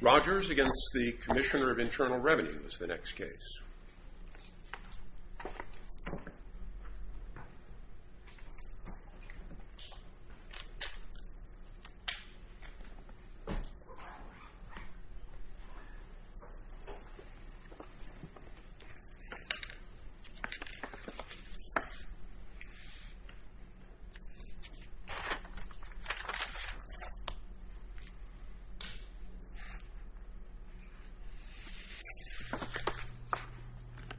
Rogers against the Commissioner of Internal Revenue is the next case.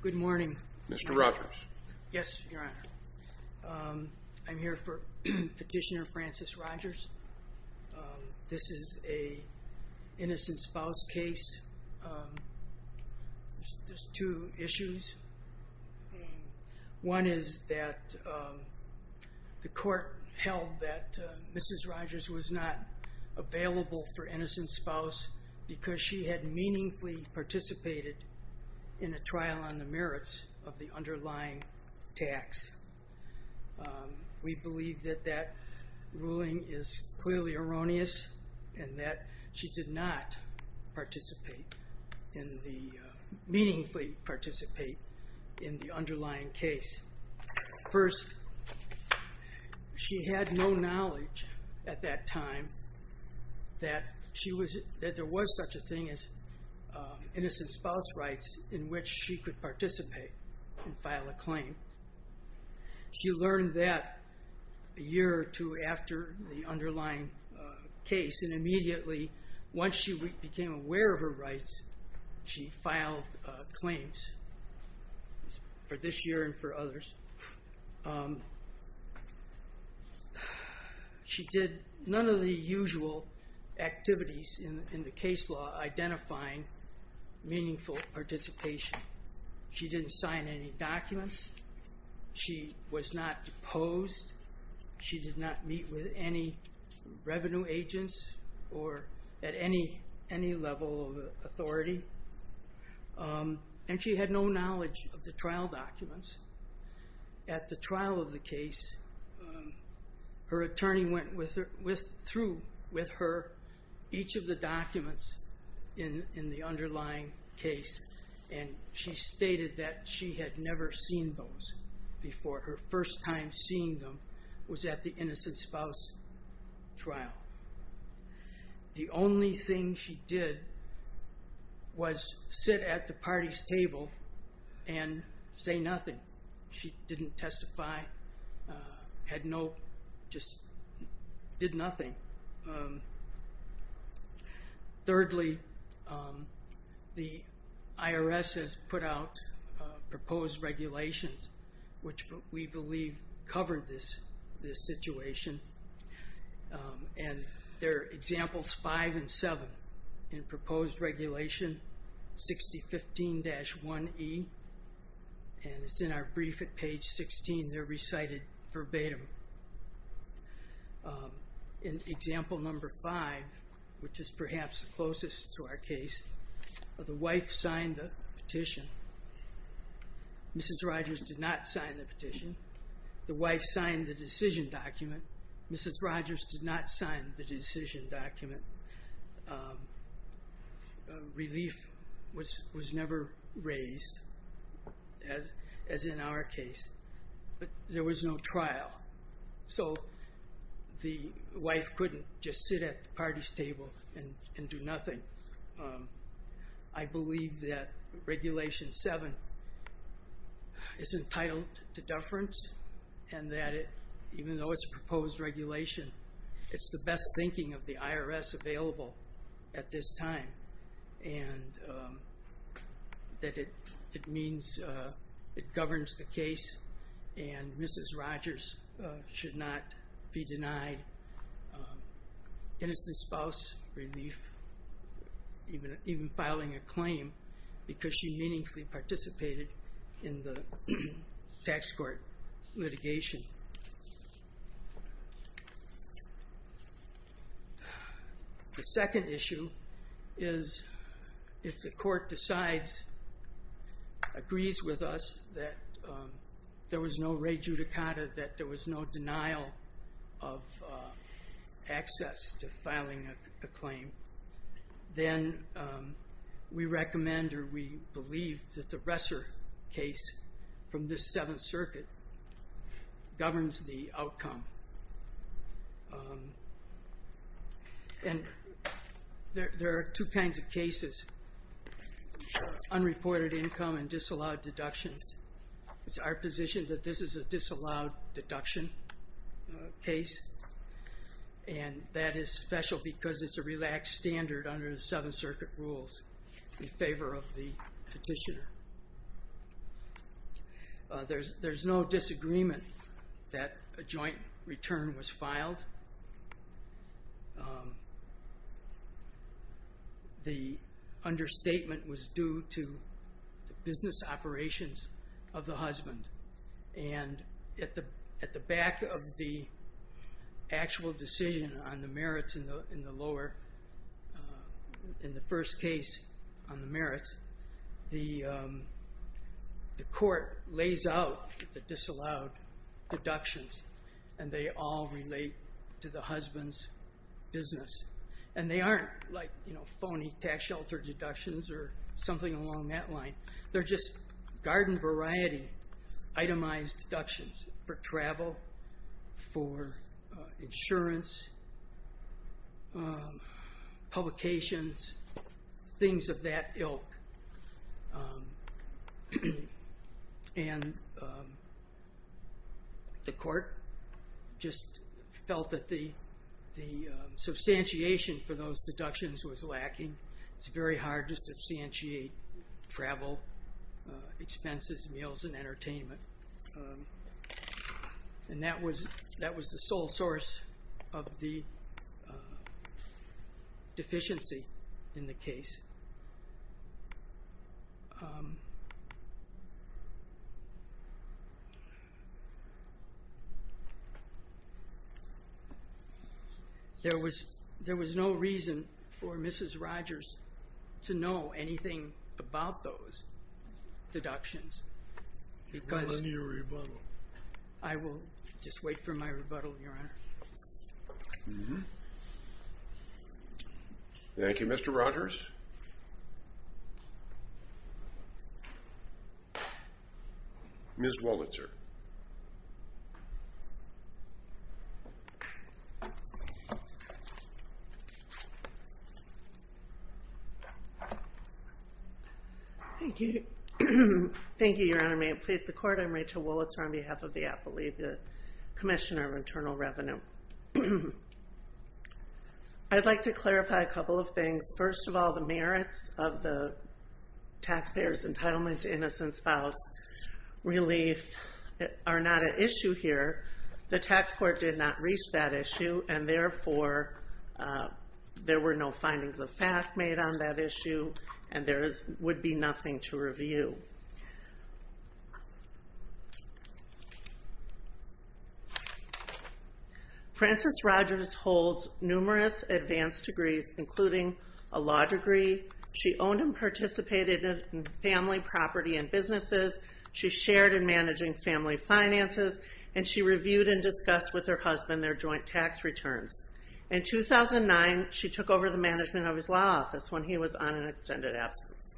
Good morning, Mr. Rogers. Yes, Your Honor. I'm here for Petitioner Francis Rogers. This is an innocent spouse case. There's two issues. One is that the court held that Mrs. Rogers was not available for innocent spouse because she had meaningfully participated in a trial on the merits of the underlying tax. We believe that that ruling is clearly erroneous and that she did not participate in the, meaningfully participate in the underlying case. First, she had no knowledge at that time that there was such a thing as innocent spouse rights in which she could participate and file a claim. She learned that a year or two after the underlying case and immediately once she became aware of her rights, she filed claims for this year and for other years. She did none of the usual activities in the case law identifying meaningful participation. She didn't sign any documents. She was not deposed. She did not meet with any revenue agents or at any level of authority. She had no knowledge of the trial documents. At the trial of the case, her attorney went through with her each of the documents in the underlying case and she stated that she had never seen those before. Her first time seeing them was at the innocent spouse trial. The only thing she did was sit at the party's table and say nothing. She didn't testify, just did nothing. Thirdly, the IRS has put out proposed regulations which we believe cover this situation. There are examples five and seven in proposed regulation 6015-1E. It's in our brief at page 16. They're recited verbatim. In example number five, which is perhaps closest to our case, the wife signed the petition. Mrs. Rogers did not sign the petition. The wife signed the decision document. Mrs. Rogers did not sign the decision document. Relief was never raised as in our case. There was no trial. The wife couldn't just sit at the party's table and do nothing. I believe that regulation seven is entitled to deference and that even though it's a proposed regulation, it's the best thinking of the IRS available at this time. It means it governs the case and Mrs. Rogers should not be denied innocent spouse relief even filing a claim because she meaningfully participated in the tax court litigation. The second issue is if the court decides, agrees with us that there was no re judicata, that there was no denial of access to filing a claim, then we recommend or we believe that the Resser case from this seventh circuit governs the outcome. And there are two kinds of cases. Unreported income and disallowed deductions. It's our position that this is a disallowed deduction case and that is special because it's a relaxed standard under the seventh circuit rules in favor of the petitioner. There's no disagreement that a joint return was filed. The understatement was due to business operations of the husband and at the back of the actual decision on the merits in the lower, in the first case on the merits, the court lays out the disallowed deductions and they all relate to the husband's business. And they aren't like phony tax shelter deductions or something along that line. They're just garden variety itemized deductions for travel, for insurance, publications, things of that ilk. And the court just felt that the substantiation for those deductions was lacking. It's very hard to substantiate travel expenses, meals and entertainment. And that was the sole source of the deficiency in the case. There was no reason for Mrs. Rogers to know anything about those deductions. I will just wait for my rebuttal, Your Honor. Thank you, Mr. Rogers. Ms. Wolitzer. Thank you. Thank you, Your Honor. May it please the Court, I'm Rachel Wolitzer on behalf of the Appellee, the Commissioner of Internal Revenue. I'd like to clarify a couple of things. First of all, the merits of the taxpayer's entitlement to innocent spouse relief are not an issue here. The tax court did not reach that issue and therefore there were no findings of fact made on that issue and there would be nothing to review. Francis Rogers holds numerous advanced degrees, including a law degree. She owned and participated in family property and businesses. She shared in managing family finances and she reviewed and discussed with her husband their joint tax returns. In 2009, she took over the management of his law office when he was on an extended absence.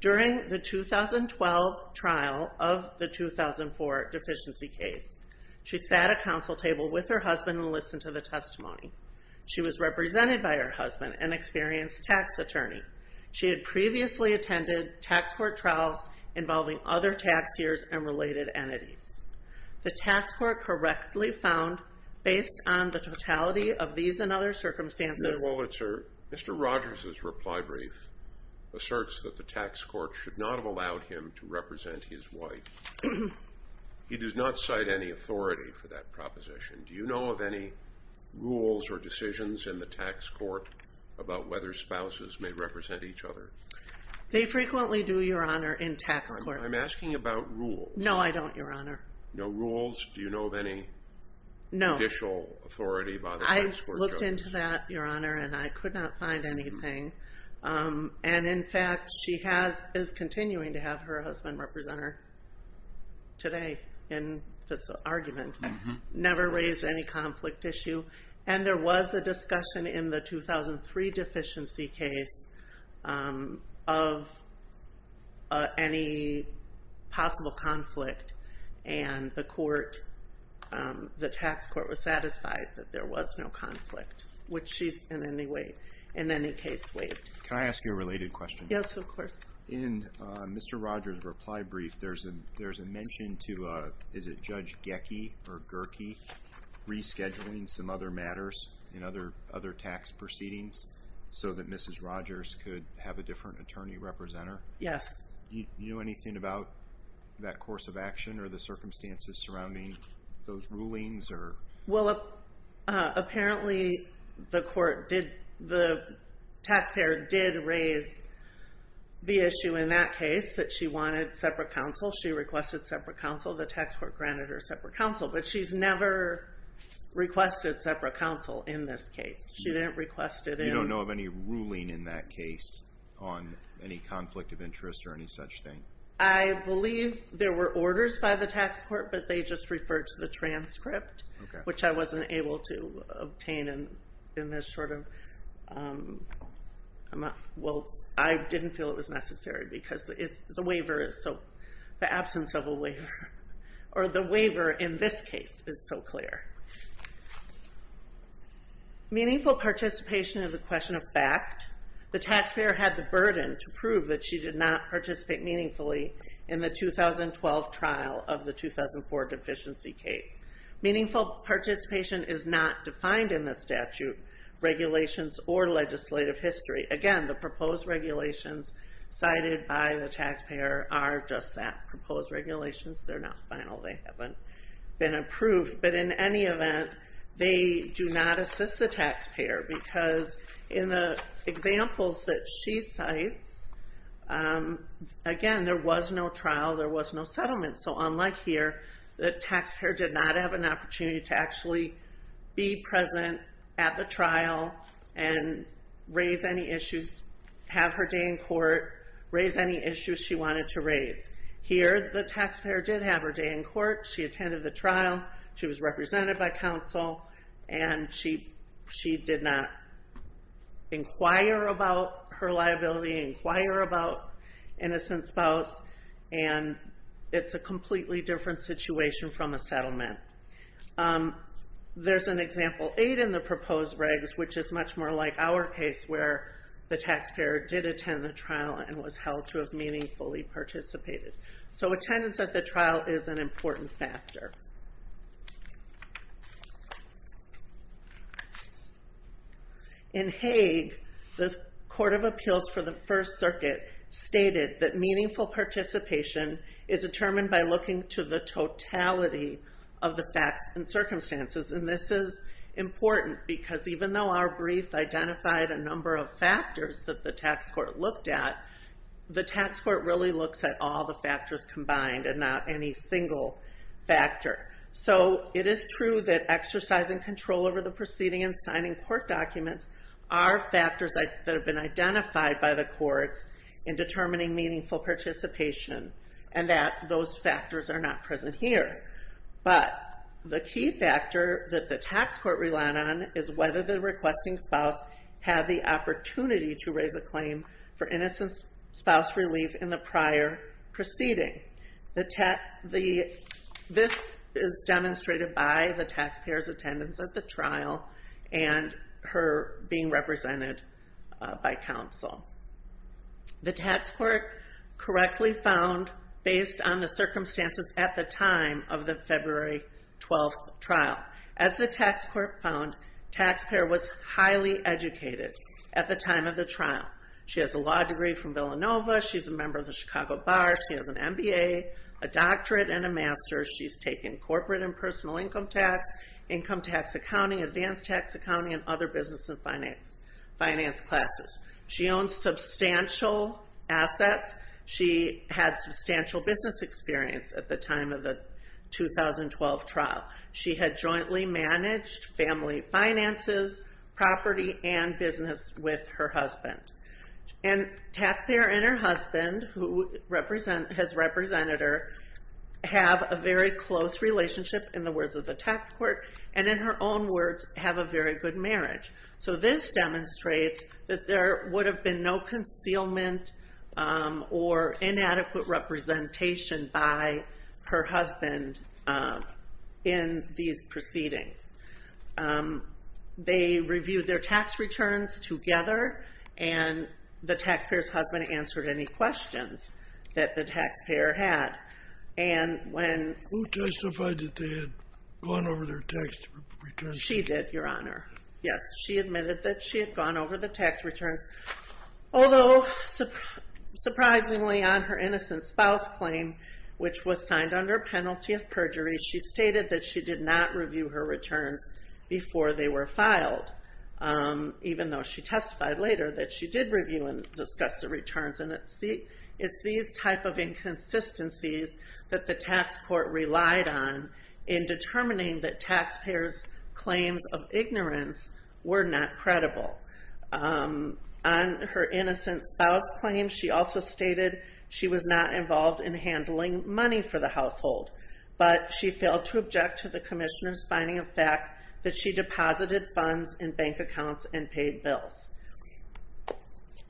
During the 2012 trial of the 2004 deficiency case, she sat at a council table with her husband and listened to the testimony. She was represented by her husband, an experienced tax attorney. She had previously attended tax court trials involving other taxiers and related entities. The tax court correctly found, based on the totality of these and other circumstances... Mr. Rogers' reply brief asserts that the tax court should not have allowed him to represent his wife. He does not cite any authority for that proposition. Do you know of any rules or decisions in the tax court about whether spouses may represent each other? They frequently do, Your Honor, in tax court. I'm asking about rules. No, I don't, Your Honor. No rules? Do you know of any judicial authority by the tax court? I looked into that, Your Honor, and I could not find anything. And, in fact, she is continuing to have her husband represent her today in this argument. Never raised any conflict issue. And there was a discussion in the 2003 deficiency case of any possible conflict. And the court, the tax court, was satisfied that there was no conflict, which she's in any case waived. Can I ask you a related question? Yes, of course. In Mr. Rogers' reply brief, there's a mention to, is it Judge Gecki or Gerkey, rescheduling some other matters in other tax proceedings so that Mrs. Rogers could have a different attorney representer? Yes. Do you know anything about that course of action or the circumstances surrounding those rulings? Well, apparently the court did, the taxpayer did raise the issue in that case that she wanted separate counsel. She requested separate counsel. The tax court granted her separate counsel. But she's never requested separate counsel in this case. She didn't request it in… And you don't know of any ruling in that case on any conflict of interest or any such thing? I believe there were orders by the tax court, but they just referred to the transcript, which I wasn't able to obtain in this sort of amount. Well, I didn't feel it was necessary because the waiver is so, the absence of a waiver, or the waiver in this case is so clear. Meaningful participation is a question of fact. The taxpayer had the burden to prove that she did not participate meaningfully in the 2012 trial of the 2004 deficiency case. Meaningful participation is not defined in the statute, regulations, or legislative history. Again, the proposed regulations cited by the taxpayer are just that, proposed regulations. They're not final. They haven't been approved. But in any event, they do not assist the taxpayer because in the examples that she cites, again, there was no trial. There was no settlement. So unlike here, the taxpayer did not have an opportunity to actually be present at the trial and raise any issues, have her day in court, raise any issues she wanted to raise. Here, the taxpayer did have her day in court. She attended the trial. She was represented by counsel. And she did not inquire about her liability, inquire about innocent spouse. And it's a completely different situation from a settlement. There's an example eight in the proposed regs, which is much more like our case, where the taxpayer did attend the trial and was held to have meaningfully participated. So attendance at the trial is an important factor. In Hague, the Court of Appeals for the First Circuit stated that meaningful participation is determined by looking to the totality of the facts and circumstances. And this is important because even though our brief identified a number of factors that the tax court looked at, the tax court really looks at all the factors combined and not any single factor. So it is true that exercising control over the proceeding and signing court documents are factors that have been identified by the courts in determining meaningful participation and that those factors are not present here. But the key factor that the tax court relied on is whether the requesting spouse had the opportunity to raise a claim for innocent spouse relief in the prior proceeding. This is demonstrated by the taxpayer's attendance at the trial and her being represented by counsel. The tax court correctly found, based on the circumstances at the time of the February 12th trial, as the tax court found, taxpayer was highly educated at the time of the trial. She has a law degree from Villanova, she's a member of the Chicago Bar, she has an MBA, a doctorate, and a master's. She's taken corporate and personal income tax, income tax accounting, advanced tax accounting, and other business and finance classes. She owns substantial assets. She had substantial business experience at the time of the 2012 trial. She had jointly managed family finances, property, and business with her husband. And taxpayer and her husband, who has represented her, have a very close relationship, in the words of the tax court, and in her own words, have a very good marriage. So this demonstrates that there would have been no concealment or inadequate representation by her husband in these proceedings. They reviewed their tax returns together, and the taxpayer's husband answered any questions that the taxpayer had. And when... Who testified that they had gone over their tax returns? She did, Your Honor. Yes, she admitted that she had gone over the tax returns. Although, surprisingly, on her innocent spouse claim, which was signed under a penalty of perjury, she stated that she did not review her returns before they were filed, even though she testified later that she did review and discuss the returns. And it's these type of inconsistencies that the tax court relied on in determining that taxpayers' claims of ignorance were not credible. On her innocent spouse claim, she also stated she was not involved in handling money for the household, but she failed to object to the commissioner's finding of fact that she deposited funds in bank accounts and paid bills.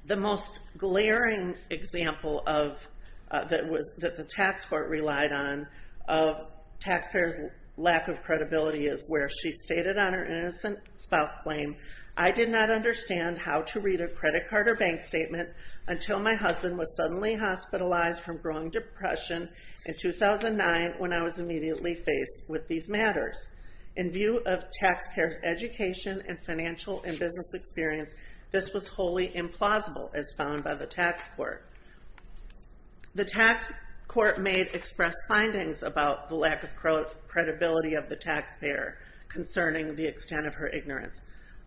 The most glaring example that the tax court relied on of taxpayers' lack of credibility is where she stated on her innocent spouse claim, I did not understand how to read a credit card or bank statement until my husband was suddenly hospitalized from growing depression in 2009 when I was immediately faced with these matters. In view of taxpayers' education and financial and business experience, this was wholly implausible as found by the tax court. The tax court may have expressed findings about the lack of credibility of the taxpayer concerning the extent of her ignorance.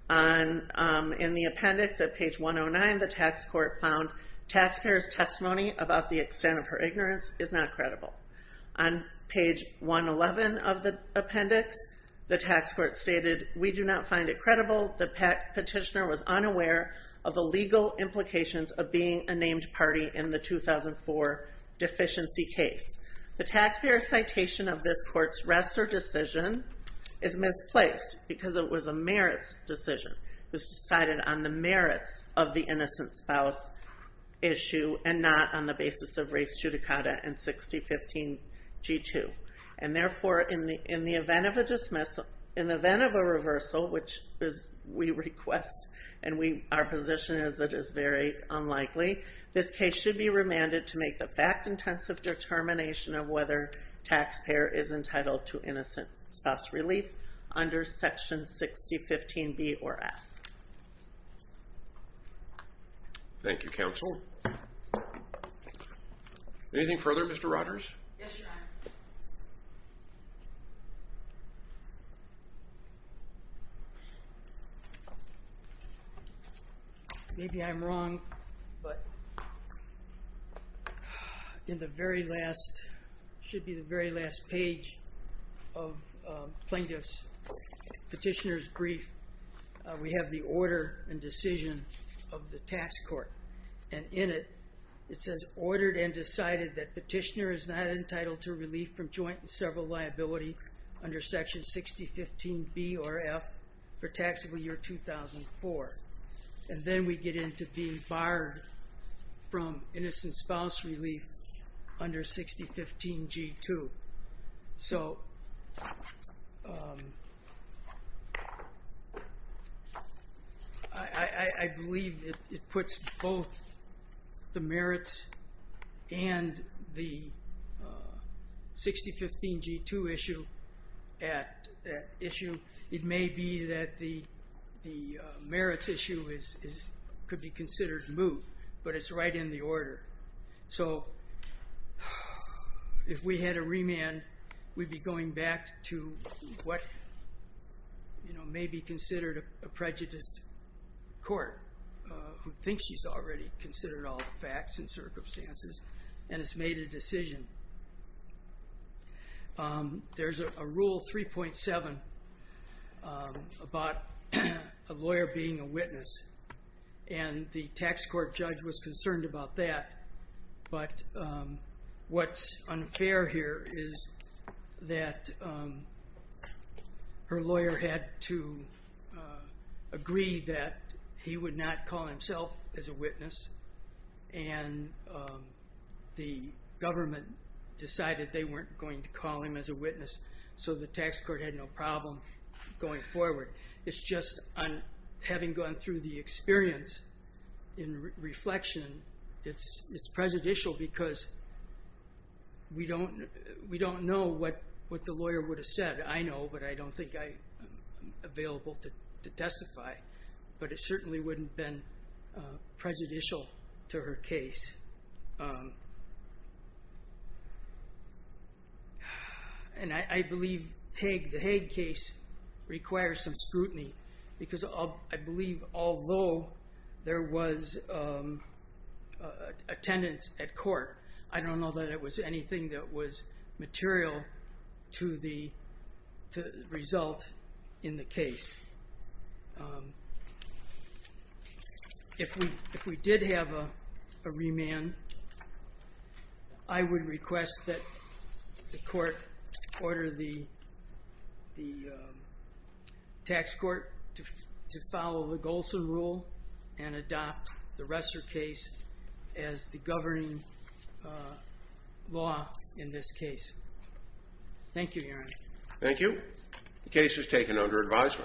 In the appendix at page 109, the tax court found taxpayers' testimony about the extent of her ignorance is not credible. On page 111 of the appendix, the tax court stated we do not find it credible the petitioner was unaware of the legal implications of being a named party in the 2004 deficiency case. The taxpayer citation of this court's rest or decision is misplaced because it was a merits decision. It was decided on the merits of the innocent spouse issue and not on the basis of race judicata in 6015 G2. And therefore, in the event of a dismissal, in the event of a reversal, which we request, and our position is it is very unlikely, this case should be remanded to make the fact-intensive determination of whether taxpayer is entitled to innocent spouse relief under section 6015 B or F. Thank you, counsel. Anything further, Mr. Rogers? Yes, your honor. Maybe I'm wrong, but in the very last, should be the very last page of plaintiff's petitioner's brief, we have the order and decision of the tax court. And in it, it says, ordered and decided that petitioner is not entitled to relief from joint and several liability under section 6015 B or F for taxable year 2004. And then we get into being barred from innocent spouse relief under 6015 G2. So I believe it puts both the merits and the 6015 G2 issue at issue. It may be that the merits issue could be considered moved, but it's right in the order. So if we had a remand, we'd be going back to what may be considered a prejudiced court who thinks she's already considered all the facts and circumstances and has made a decision. There's a rule 3.7 about a lawyer being a witness, and the tax court judge was concerned about that. But what's unfair here is that her lawyer had to agree that he would not call himself as a witness, and the government decided they weren't going to call him as a witness, so the tax court had no problem going forward. It's just having gone through the experience in reflection, it's prejudicial because we don't know what the lawyer would have said. I know, but I don't think I'm available to testify. But it certainly wouldn't have been prejudicial to her case. And I believe the Hague case requires some scrutiny because I believe although there was attendance at court, I don't know that it was anything that was material to the result in the case. If we did have a remand, I would request that the court order the tax court to follow the Golsan rule and adopt the Resser case as the governing law in this case. Thank you, Your Honor. Thank you. The case is taken under advisement.